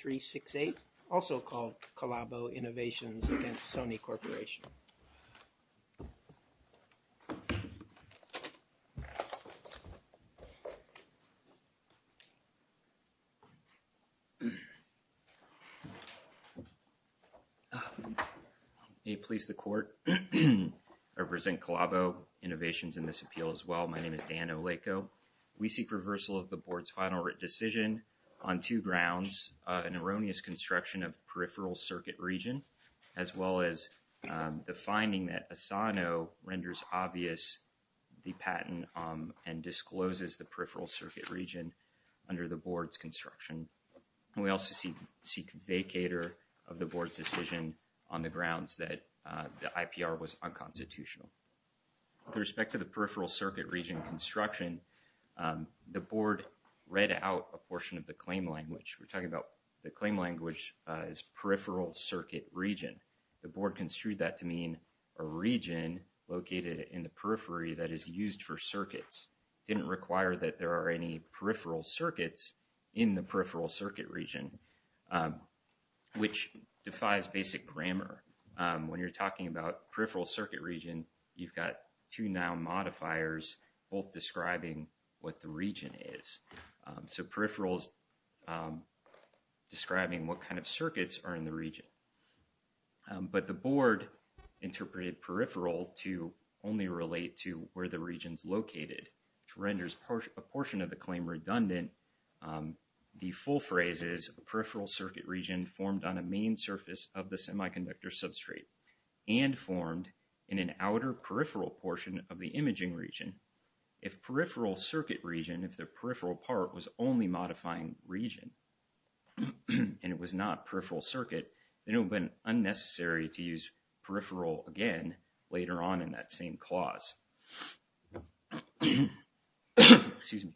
368, also called Calabo Innovations against Sony Corporation. May it please the court, I represent Calabo Innovations in this appeal as well. My name is Dan Oleko. We seek reversal of the board's final decision on two grounds, an erroneous construction of peripheral circuit region, as well as the finding that Asano renders obvious the patent and discloses the peripheral circuit region under the board's construction. And we also seek vacator of the board's decision on the grounds that the IPR was unconstitutional. With respect to the peripheral circuit region construction, the board read out a portion of the claim language. We're talking about the claim language is peripheral circuit region. The board construed that to mean a region located in the periphery that is used for circuits. It didn't require that there are any peripheral circuits in the peripheral circuit region, which defies basic grammar. When you're talking about peripheral circuit region, you've got two noun modifiers, both describing what the region is. So peripherals describing what kind of circuits are in the region. But the board interpreted peripheral to only relate to where the region's located, which renders a portion of the claim redundant. The full phrase is a peripheral circuit region formed on a main surface of the semiconductor substrate and formed in an outer peripheral portion of the imaging region. If peripheral circuit region, if the peripheral part was only modifying region, and it was not peripheral circuit, then it would have been unnecessary to use peripheral again later on in that same clause. Excuse me.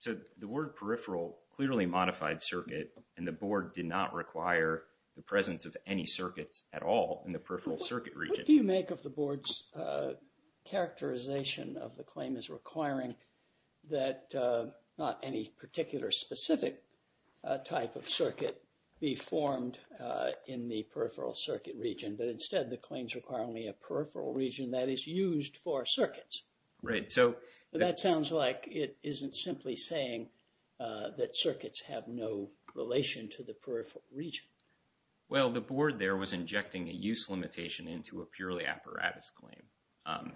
So the word peripheral clearly modified circuit and the board did not require the presence of any circuits at all in the peripheral circuit region. What do you make of the board's characterization of the claim is requiring that not any particular specific type of circuit be formed in the peripheral circuit region, but instead the claims require only a peripheral region that is used for circuits. Right. So that sounds like it isn't simply saying that circuits have no relation to the peripheral region. Well, the board there was injecting a use limitation into a purely apparatus claim.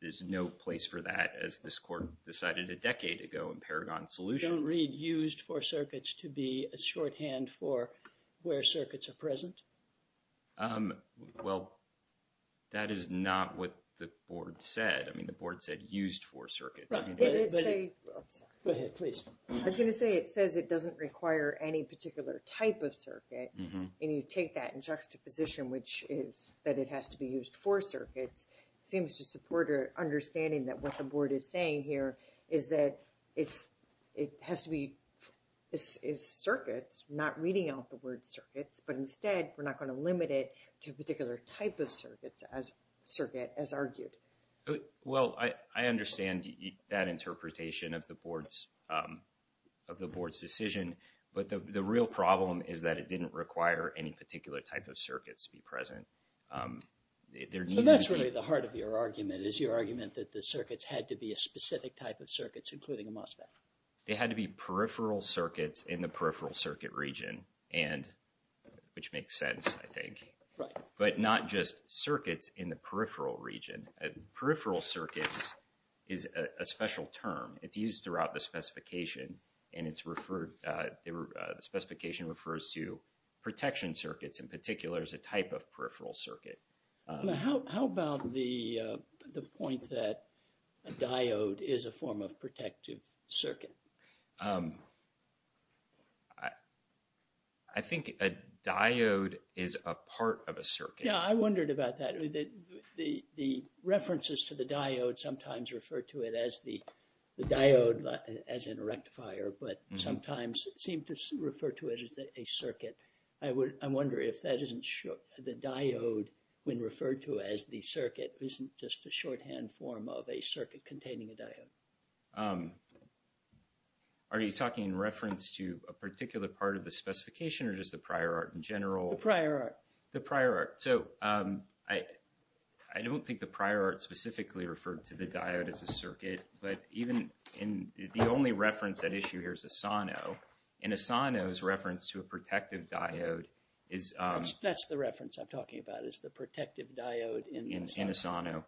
There's no place for that as this court decided a decade ago in Paragon Solutions. Don't read used for circuits to be a shorthand for where circuits are present? Well, that is not what the board said. I mean, the board said used for circuits. I was going to say it says it doesn't require any particular type of circuit. And you take that in juxtaposition, which is that it has to be used for circuits. Seems to support our understanding that what the board is saying here is that it has to be circuits, not reading out the word circuits, but instead we're not going to limit it to a particular type of circuit as argued. Well, I understand that interpretation of the board's decision, but the real problem is that it didn't require any particular type of circuits to be present. So that's really the heart of your argument, is your argument that the circuits had to be a specific type of circuits, including a MOSFET. They had to be peripheral circuits in the peripheral circuit region, which makes sense, I think. Right. But not just throughout the specification, and the specification refers to protection circuits in particular as a type of peripheral circuit. How about the point that a diode is a form of protective circuit? I think a diode is a part of a circuit. Yeah, I wondered about that. The references to the diode as in a rectifier, but sometimes seem to refer to it as a circuit. I wonder if that isn't sure. The diode, when referred to as the circuit, isn't just a shorthand form of a circuit containing a diode. Are you talking in reference to a particular part of the specification or just the prior art in general? The prior art. The prior art. So I don't think the prior art specifically referred to the diode as a circuit, but even in the only reference at issue here is Asano, and Asano's reference to a protective diode is... That's the reference I'm talking about, is the protective diode in Asano. In Asano.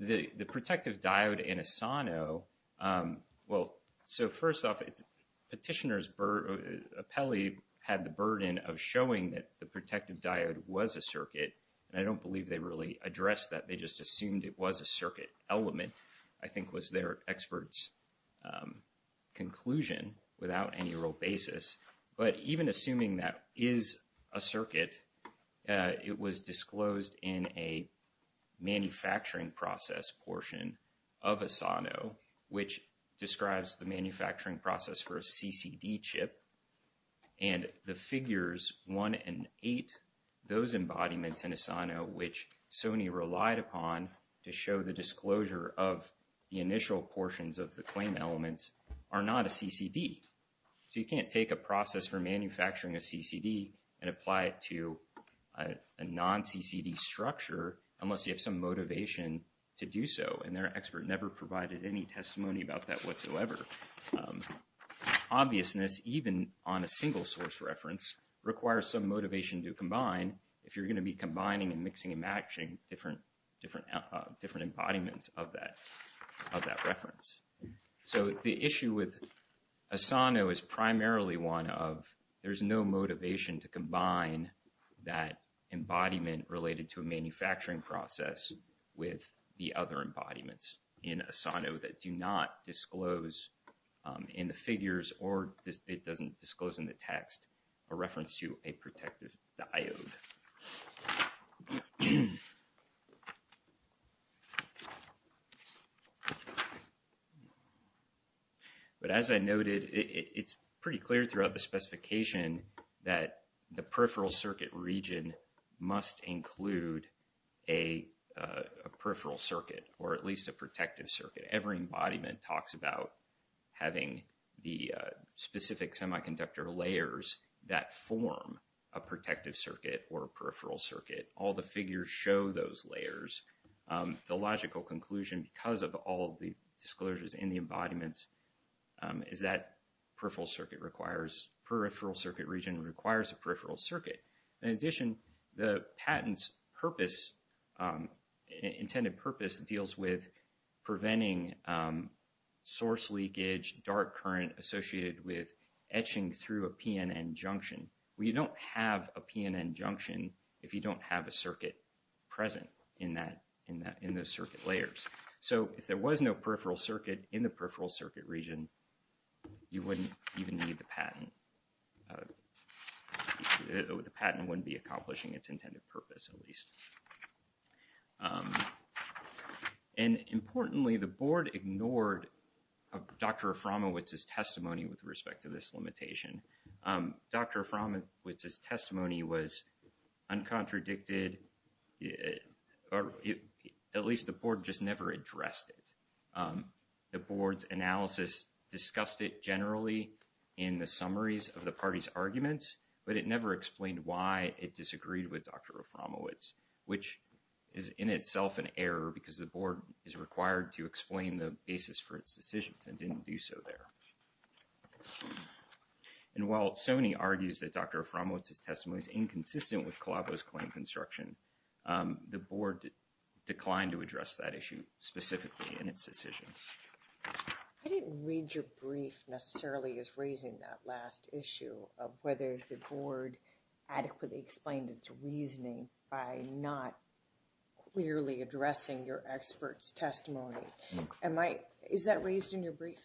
The protective diode in Asano, well, so first off, Petitioner's appellee had the burden of showing that the protective diode was a circuit, and I don't believe they really addressed that. They just assumed it was a circuit element, I think was their expert's conclusion without any real basis. But even assuming that is a circuit, it was disclosed in a manufacturing process portion of Asano, which describes the manufacturing process for a CCD chip, and the figures 1 and 8, those embodiments in Asano, which Sony relied upon to show the disclosure of the initial portions of the claim elements, are not a CCD. So you can't take a process for manufacturing a CCD and apply it to a non-CCD structure unless you have some motivation to do so, and their expert never provided any obviousness, even on a single source reference, requires some motivation to combine if you're going to be combining and mixing and matching different embodiments of that reference. So the issue with Asano is primarily one of there's no motivation to combine that embodiment related to a manufacturing process with the other embodiments in Asano that do not disclose in the figures or it doesn't disclose in the text a reference to a protective diode. But as I noted, it's pretty clear throughout the specification that the peripheral circuit region must include a peripheral circuit or at least a protective circuit. Every embodiment talks about having the specific semiconductor layers that form a protective circuit or a peripheral circuit. All the figures show those layers. The logical conclusion, because of all the disclosures in the embodiments, is that peripheral circuit region requires a peripheral circuit. In addition, the patent's purpose, intended purpose, deals with preventing source leakage, dark current associated with etching through a PNN junction. You don't have a PNN junction if you don't have a circuit present in those circuit layers. So if there was no peripheral circuit in the peripheral circuit region, you wouldn't even need the patent. The patent wouldn't be accomplishing its intended purpose, at least. And importantly, the board ignored Dr. Aframowicz's testimony with respect to this limitation. Dr. Aframowicz's testimony was uncontradicted, or at least the board just addressed it. The board's analysis discussed it generally in the summaries of the party's arguments, but it never explained why it disagreed with Dr. Aframowicz, which is in itself an error because the board is required to explain the basis for its decisions and didn't do so there. And while Sony argues that Dr. Aframowicz's testimony is inconsistent with specifically in its decision. I didn't read your brief necessarily as raising that last issue of whether the board adequately explained its reasoning by not clearly addressing your expert's testimony. Am I, is that raised in your brief?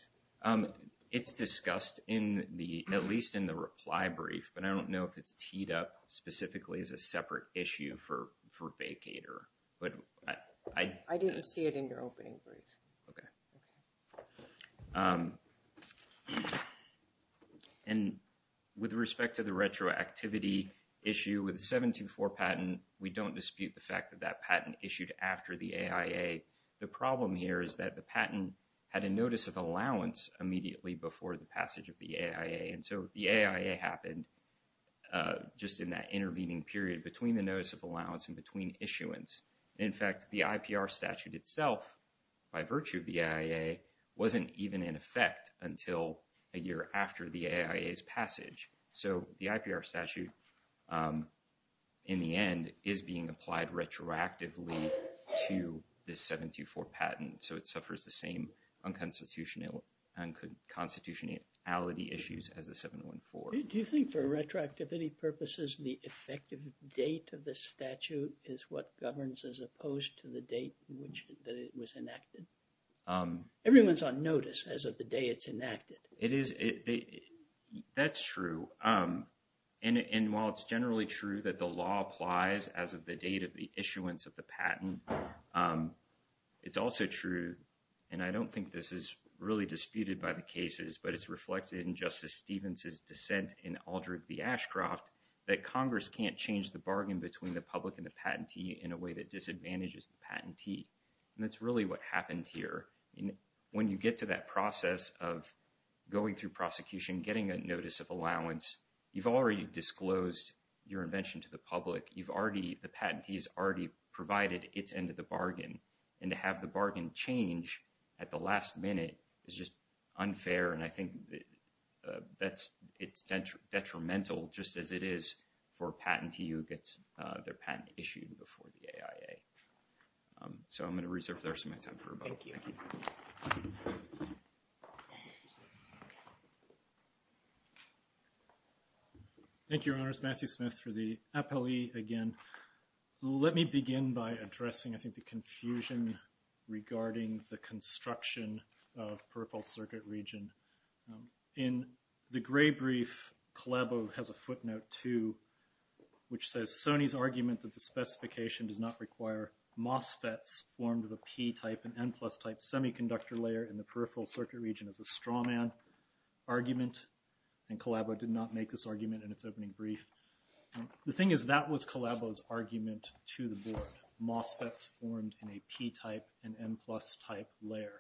It's discussed in the, at least in the reply brief, but I don't know if it's teed up specifically as a separate issue for vacator, but I didn't see it in your opening brief. Okay. And with respect to the retroactivity issue with 724 patent, we don't dispute the fact that that patent issued after the AIA. The problem here is that the patent had a notice of allowance immediately before the passage of the AIA. And so the AIA happened just in that intervening period between the notice of allowance and between issuance. In fact, the IPR statute itself, by virtue of the AIA, wasn't even in effect until a year after the AIA's passage. So the IPR statute in the end is being applied retroactively to the 724 patent. So it suffers the same unconstitutionality issues as the 714. Do you think for retroactivity purposes, the effective date of the statute is what governs as opposed to the date which, that it was enacted? Everyone's on notice as of the day it's enacted. It is, that's true. And while it's generally true that the law applies as of the date of the issuance of the patent, it's also true, and I don't think this is really disputed by the cases, but it's reflected in Justice Stevens's Aldrich v. Ashcroft, that Congress can't change the bargain between the public and the patentee in a way that disadvantages the patentee. And that's really what happened here. When you get to that process of going through prosecution, getting a notice of allowance, you've already disclosed your invention to the public. You've already, the patentee has already provided its end of the bargain. And to have the bargain change at the last minute is just unfair. And I think that's, it's detrimental just as it is for a patentee who gets their patent issued before the AIA. So I'm going to reserve the rest of my time for rebuttal. Thank you. Thank you, Your Honors. Matthew Smith for the appellee again. Let me begin by addressing, I think, the confusion regarding the construction of peripheral circuit region. In the gray brief, Collabo has a footnote, too, which says, Sony's argument that the specification does not require MOSFETs formed of a P-type and N-plus type semiconductor layer in the peripheral circuit region is a strawman argument, and Collabo did not make this argument in its opening brief. The thing is, that was Collabo's argument to the board, MOSFETs formed in a P-type and N-plus type layer.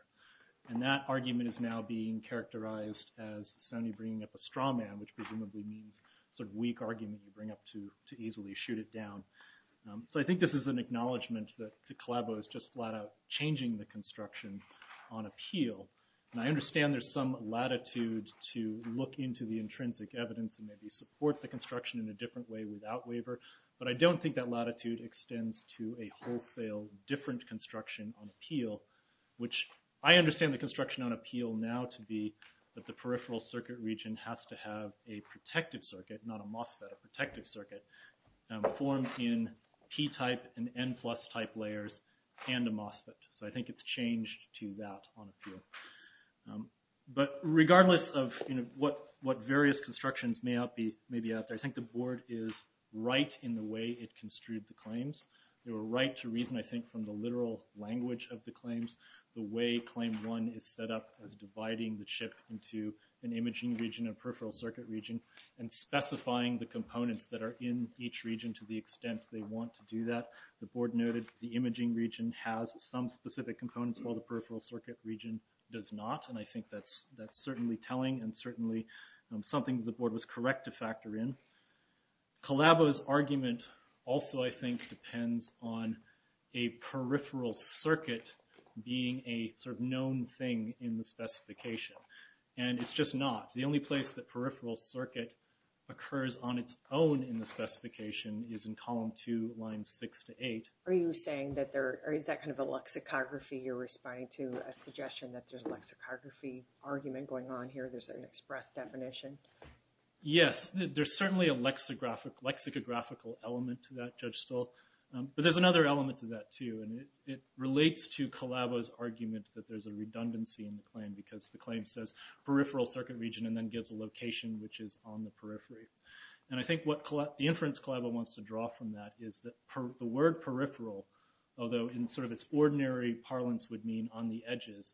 And that argument is now being characterized as Sony bringing up a strawman, which presumably means sort of weak argument you bring up to easily shoot it down. So I think this is an acknowledgment that Collabo is just flat out changing the construction on appeal. And I understand there's some latitude to look into the intrinsic evidence and maybe support the construction in a different way without waiver, but I don't think that latitude extends to a wholesale different construction on appeal, which I understand the construction on appeal now to be that the peripheral circuit region has to have a protective circuit, not a MOSFET, a protective circuit formed in P-type and N-plus type layers and a MOSFET. So I think it's changed to that on appeal. But regardless of what various constructions may be out there, I think the board is right in the way it construed the claims. They were right to reason, I think, from the literal language of the claims, the way claim one is set up as dividing the chip into an imaging region, a peripheral circuit region, and specifying the components that are in each region to the peripheral circuit region does not. And I think that's certainly telling and certainly something the board was correct to factor in. Collabo's argument also, I think, depends on a peripheral circuit being a sort of known thing in the specification. And it's just not. The only place that peripheral circuit occurs on its own in the specification is in column two, lines six to nine. I'm not responding to a suggestion that there's a lexicography argument going on here. There's an express definition. Yes, there's certainly a lexicographical element to that, Judge Stolt. But there's another element to that too, and it relates to Collabo's argument that there's a redundancy in the claim because the claim says peripheral circuit region and then gives a location which is on the periphery. And I think what the inference Collabo wants to draw from that is that the word peripheral, although in sort of its ordinary parlance would mean on the edges,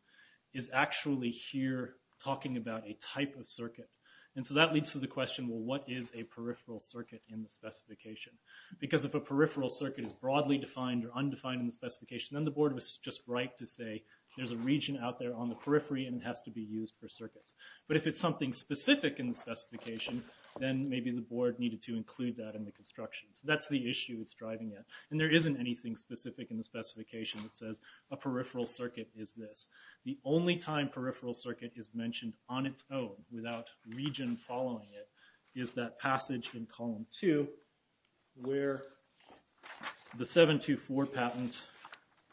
is actually here talking about a type of circuit. And so that leads to the question, well, what is a peripheral circuit in the specification? Because if a peripheral circuit is broadly defined or undefined in the specification, then the board was just right to say there's a region out there on the periphery and it has to be used for circuits. But if it's something specific in the specification, then maybe the board needed to include that in the construction. So that's the issue it's driving at. And there isn't anything specific in the specification that says a peripheral circuit is this. The only time peripheral circuit is mentioned on its own without region following it is that passage in column 2 where the 724 patent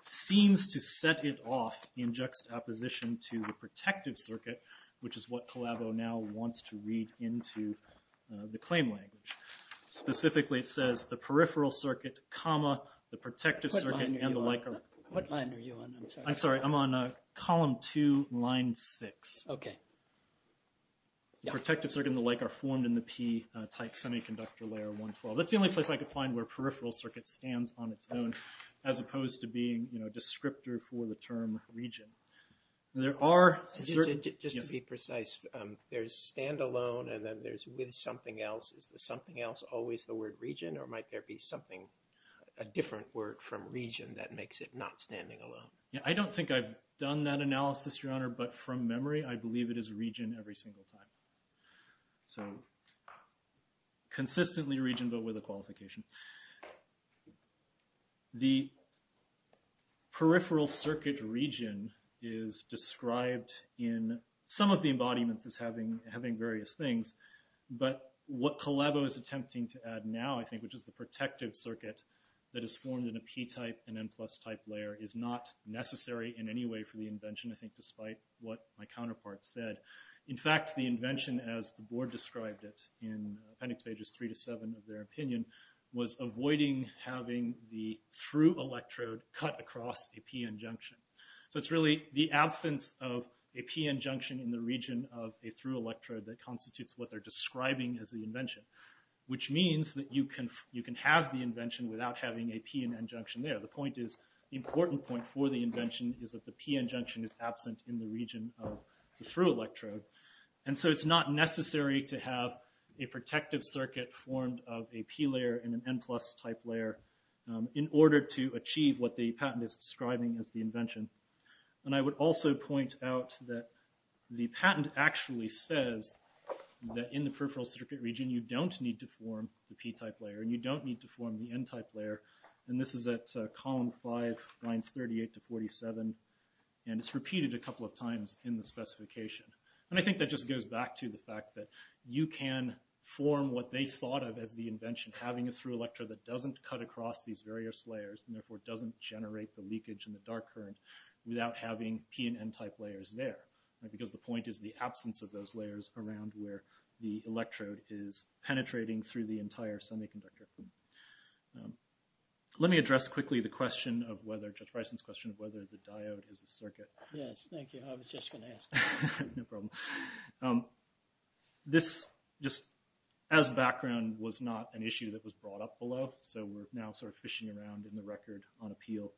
seems to set it off in juxtaposition to the protective circuit, which is what Collabo now wants to read into the claim language. Specifically it says the protective circuit and the like are formed in the P-type semiconductor layer 112. That's the only place I could find where peripheral circuit stands on its own as opposed to being a descriptor for the term region. Just to be precise, there's standalone and then there's with something else. Is something else always the word region or might there be something, a different word from region that makes it not standing alone? Yeah, I don't think I've done that analysis, your honor, but from memory, I believe it is region every single time. So consistently region, but with a qualification. The peripheral circuit region is described in some of the embodiments as having various things, but what Collabo is attempting to add now, I think, which is the protective circuit that is formed in a P-type and N-plus type layer is not necessary in any way for the invention, I think, despite what my counterpart said. In fact, the invention as the board described it in appendix pages three to seven of their opinion was avoiding having the through electrode cut across a PN junction. So it's really the absence of a PN junction in the region of a through electrode that constitutes what they're describing as the invention, which means that you can have the invention without having a PN junction there. The point is, the important point for the invention is that the PN junction is absent in the region of the through electrode. And so it's not necessary to have a protective circuit formed of a P layer and an N-plus type layer in order to achieve what the patent is describing as the invention. And I would also point out that the patent actually says that in the peripheral circuit region, you don't need to form the P-type layer and you don't need to form the N-type layer. And this is at column five, lines 38 to 47. And it's repeated a couple of times in the specification. And I think that just goes back to the fact that you can form what they thought of as the invention, having a through electrode that doesn't cut across these various layers, and therefore it doesn't generate the leakage and the dark current without having P and N-type layers there. Because the point is the absence of those layers around where the electrode is penetrating through the entire semiconductor. Let me address quickly the question of whether, Judge Bryson's question of whether the diode is a circuit. Yes, thank you. I was just going to ask. No problem. This just as background was not an issue that was brought up below. So we're now sort of fishing around in the record on appeal.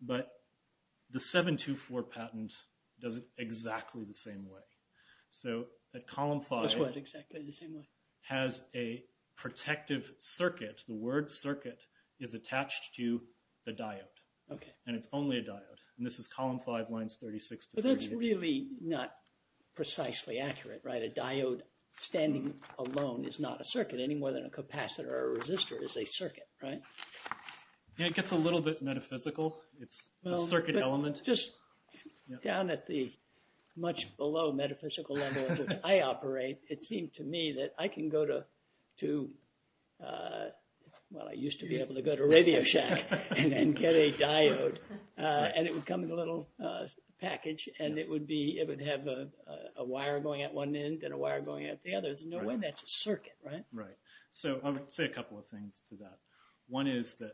But the 724 patent does it exactly the same way. So at column five, it has a protective circuit. The word circuit is attached to the diode. And it's only a diode. And this is column five, lines 36 to 38. But that's really not precisely accurate, right? A diode standing alone is not a circuit, any more than a capacitor or a resistor is a circuit, right? Yeah, it gets a little bit metaphysical. It's a circuit element. Just down at the much below metaphysical level at which I operate, it seemed to me that I can go to, well, I used to be able to go to Radio Shack and get a diode. And it would come in a little package, and it would have a wire going at one end and a wire going at the other. There's no way that's circuit, right? Right. So I would say a couple of things to that. One is that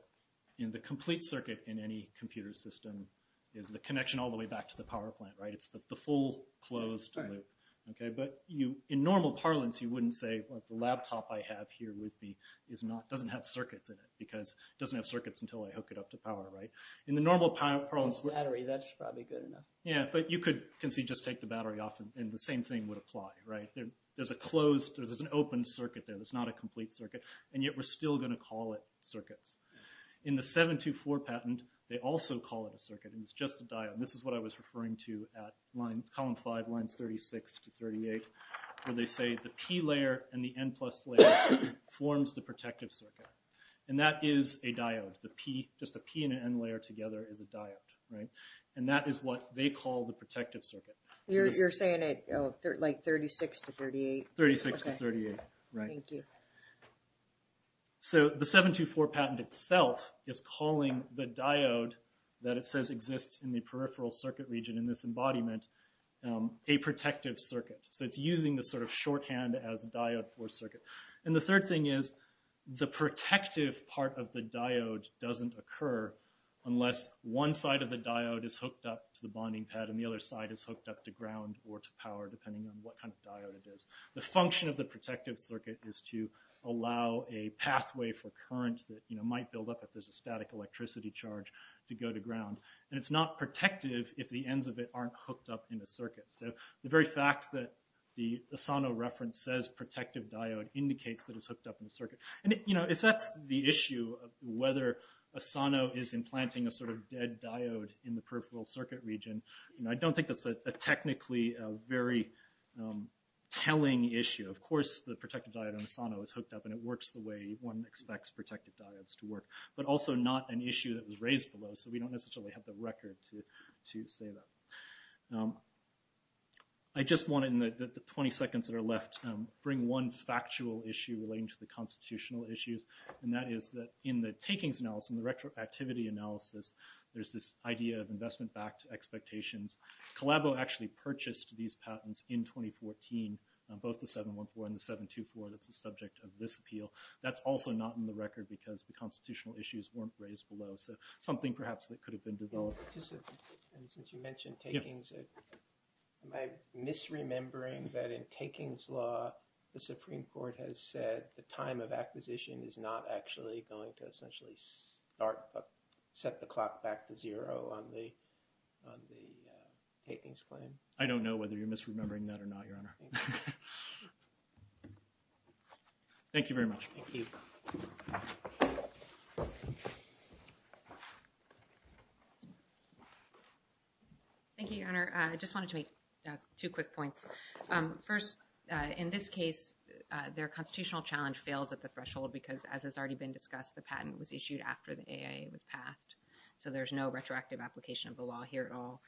in the complete circuit in any computer system is the connection all the way back to the power plant, right? It's the full closed loop. Okay. But in normal parlance, you wouldn't say, well, the laptop I have here with me doesn't have circuits in it because it doesn't have circuits until I hook it up to power, right? In the normal parlance... Battery, that's probably good enough. Yeah, but you could just take the battery off and the same thing would apply, right? There's a closed, there's an open circuit there that's not a complete circuit, and yet we're still going to call it circuits. In the 724 patent, they also call it a circuit, and it's just a diode. This is what I was referring to at column five, lines 36 to 38, where they say the P layer and the N plus layer forms the protective circuit. And that is a diode. The P, just a P and an N layer together is a diode, right? And that is what they call the protective circuit. You're saying it like 36 to 38? 36 to 38, right. Thank you. So the 724 patent itself is calling the diode that it says exists in the peripheral circuit region in this embodiment, a protective circuit. So it's using the sort of shorthand as a diode for circuit. And the third thing is the protective part of the diode doesn't occur unless one side of the diode is hooked up to the bonding pad and the other side is hooked up to ground or to power, depending on what kind of diode it is. The function of the protective circuit is to allow a pathway for current that might build up if there's a static electricity charge to go to ground. And it's not protective if the ends of it aren't hooked up in a circuit. So the very fact that the Asano reference says protective diode indicates that it's hooked up in the circuit. And if that's the issue of whether Asano is implanting a sort of diode in the peripheral circuit region, I don't think that's a technically very telling issue. Of course, the protective diode on Asano is hooked up and it works the way one expects protective diodes to work, but also not an issue that was raised below. So we don't necessarily have the record to say that. I just want in the 20 seconds that are left, bring one factual issue relating to the constitutional issues. And that is that in the takings analysis, in the retroactivity analysis, there's this idea of investment-backed expectations. Collabo actually purchased these patents in 2014, both the 714 and the 724 that's the subject of this appeal. That's also not in the record because the constitutional issues weren't raised below. So something perhaps that could have been developed. And since you mentioned takings, am I misremembering that in takings law, the Supreme Court has said the time of acquisition is not actually going to essentially set the clock back to zero on the takings claim? I don't know whether you're misremembering that or not, Your Honor. Thank you very much. Thank you. Thank you, Your Honor. I just wanted to make two quick points. First, in this case, their constitutional challenge fails at the threshold because, as has already been discussed, the patent was issued after the AIA was passed. So there's no retroactive application of the law here at all.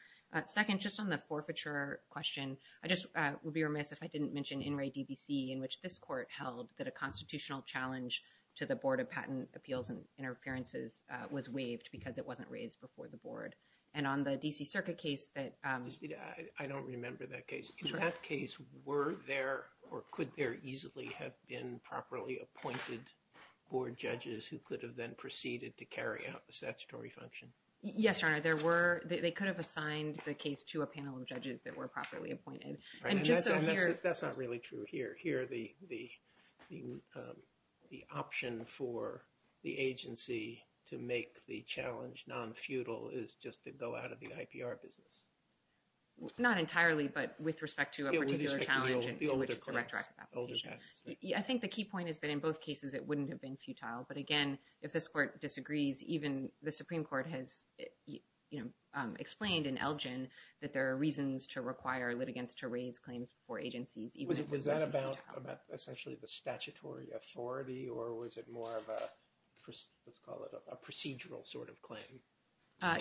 Second, just on the forfeiture question, I just would be remiss if I didn't mention In re DBC, in which this court held that a constitutional challenge to the Board of Patent Appeals and Interferences was waived because it wasn't raised before the board. And on the D.C. Circuit case that... I don't remember that case. In that case, were there or could there easily have been properly appointed board judges who could have then proceeded to carry out the statutory function? Yes, Your Honor, there were. They could have assigned the case to a panel of judges that were properly appointed. And that's not really true here. Here, the option for the agency to make the challenge non-futile is just to go out of the IPR business. Not entirely, but with respect to a particular challenge in which it's a retroactive application. I think the key point is that in both cases, it wouldn't have been futile. But again, if this court disagrees, even the Supreme Court has explained in Elgin that there are reasons to require litigants to raise claims before agencies. Was that about essentially the statutory authority or was it more of a procedural sort of claim?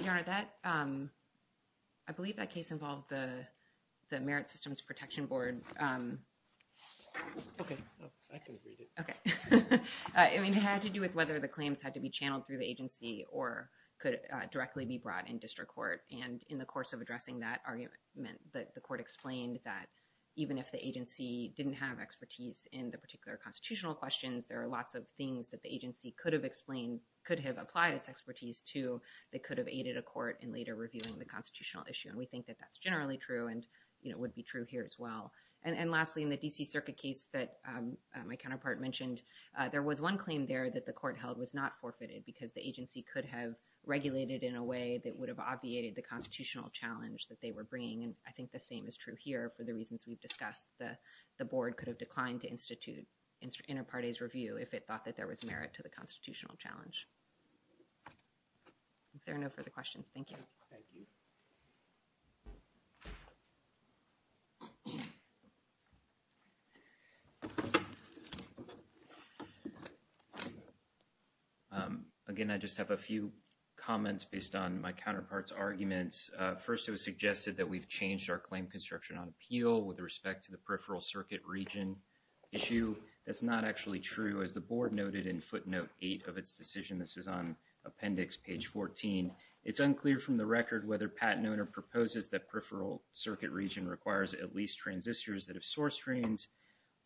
Your Honor, I believe that case involved the Merit Systems Protection Board. Okay. I can read it. Okay. I mean, it had to do with whether the claims had to be channeled through the agency or could directly be brought in district court. And in the course of addressing that argument, the court explained that even if the agency didn't have expertise in the particular constitutional questions, there are lots of things that the agency could have explained, could have applied its expertise to that could have aided a court in later reviewing the constitutional issue. And we think that that's generally true and would be true here as well. And lastly, in the D.C. Circuit case that my counterpart mentioned, there was one claim there that the court held was not forfeited because the agency could have regulated in a way that would have obviated the constitutional challenge that they were bringing. And I think the same is true here for the reasons we've discussed. The board could have declined to institute inter parties review if it thought that there was merit to the constitutional challenge. If there are no Again, I just have a few comments based on my counterpart's arguments. First, it was suggested that we've changed our claim construction on appeal with respect to the peripheral circuit region issue. That's not actually true. As the board noted in footnote eight of its decision, this is on appendix page 14. It's unclear from the record whether Pat Nona proposes that peripheral circuit region requires at least transistors that have source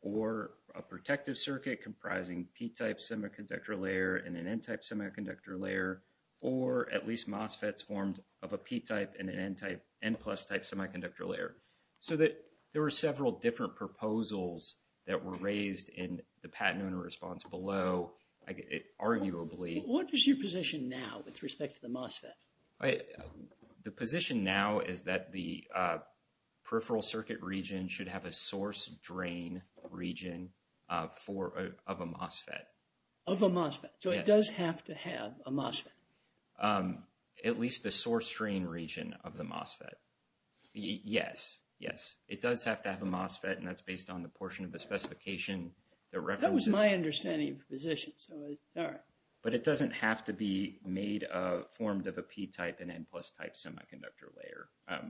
or a protective circuit comprising P-type semiconductor layer and an N-type semiconductor layer, or at least MOSFETs formed of a P-type and an N-type, N-plus type semiconductor layer. So that there were several different proposals that were raised in the Pat Nona response below, arguably. What is your position now with respect to the MOSFET? All right. The position now is that the peripheral circuit region should have a source drain region of a MOSFET. Of a MOSFET. So it does have to have a MOSFET. At least the source drain region of the MOSFET. Yes, yes. It does have to have a MOSFET, and that's based on the portion of the specification. That was my understanding of the position. So, all right. But it doesn't have to be made of, formed of a P-type and N-plus type semiconductor layer.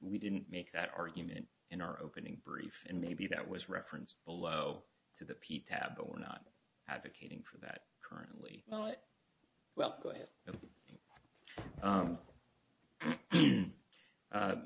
We didn't make that argument in our opening brief, and maybe that was referenced below to the P tab, but we're not advocating for that currently. Well, go ahead.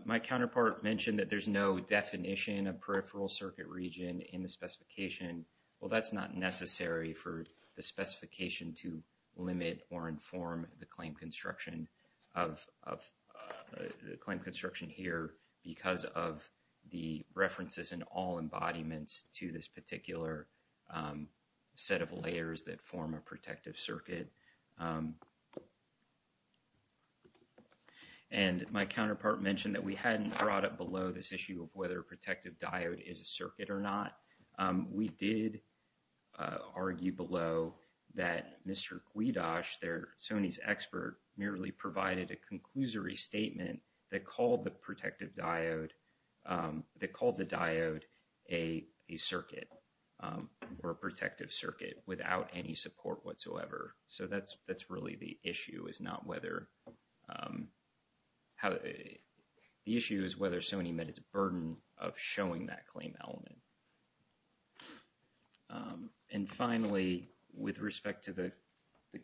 My counterpart mentioned that there's no definition of peripheral circuit region in the specification. Well, that's not necessary for the specification to limit or inform the claim construction of, the claim construction here because of the references in all embodiments to this particular set of layers that form a protective circuit. And my counterpart mentioned that we hadn't brought up below this issue of whether a we did argue below that Mr. Guidosh, their Sony's expert, merely provided a conclusory statement that called the protective diode, that called the diode a circuit, or a protective circuit without any support whatsoever. So that's really the issue is not And finally, with respect to the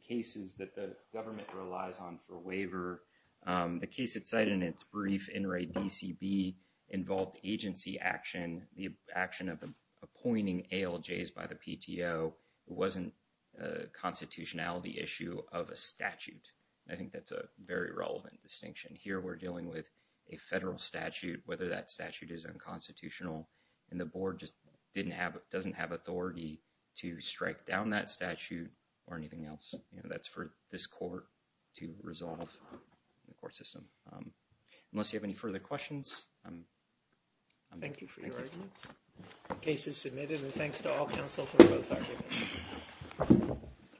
cases that the government relies on for waiver, the case it cited in its brief, NRA DCB, involved agency action, the action of the appointing ALJs by the PTO. It wasn't a constitutionality issue of a statute. I think that's a very relevant distinction. Here we're dealing with a federal statute, whether that statute is unconstitutional and the board just didn't have, doesn't have authority to strike down that statute or anything else. You know, that's for this court to resolve in the court system. Unless you have any further questions, I'm... Thank you for your arguments. The case is submitted and thanks to all counsel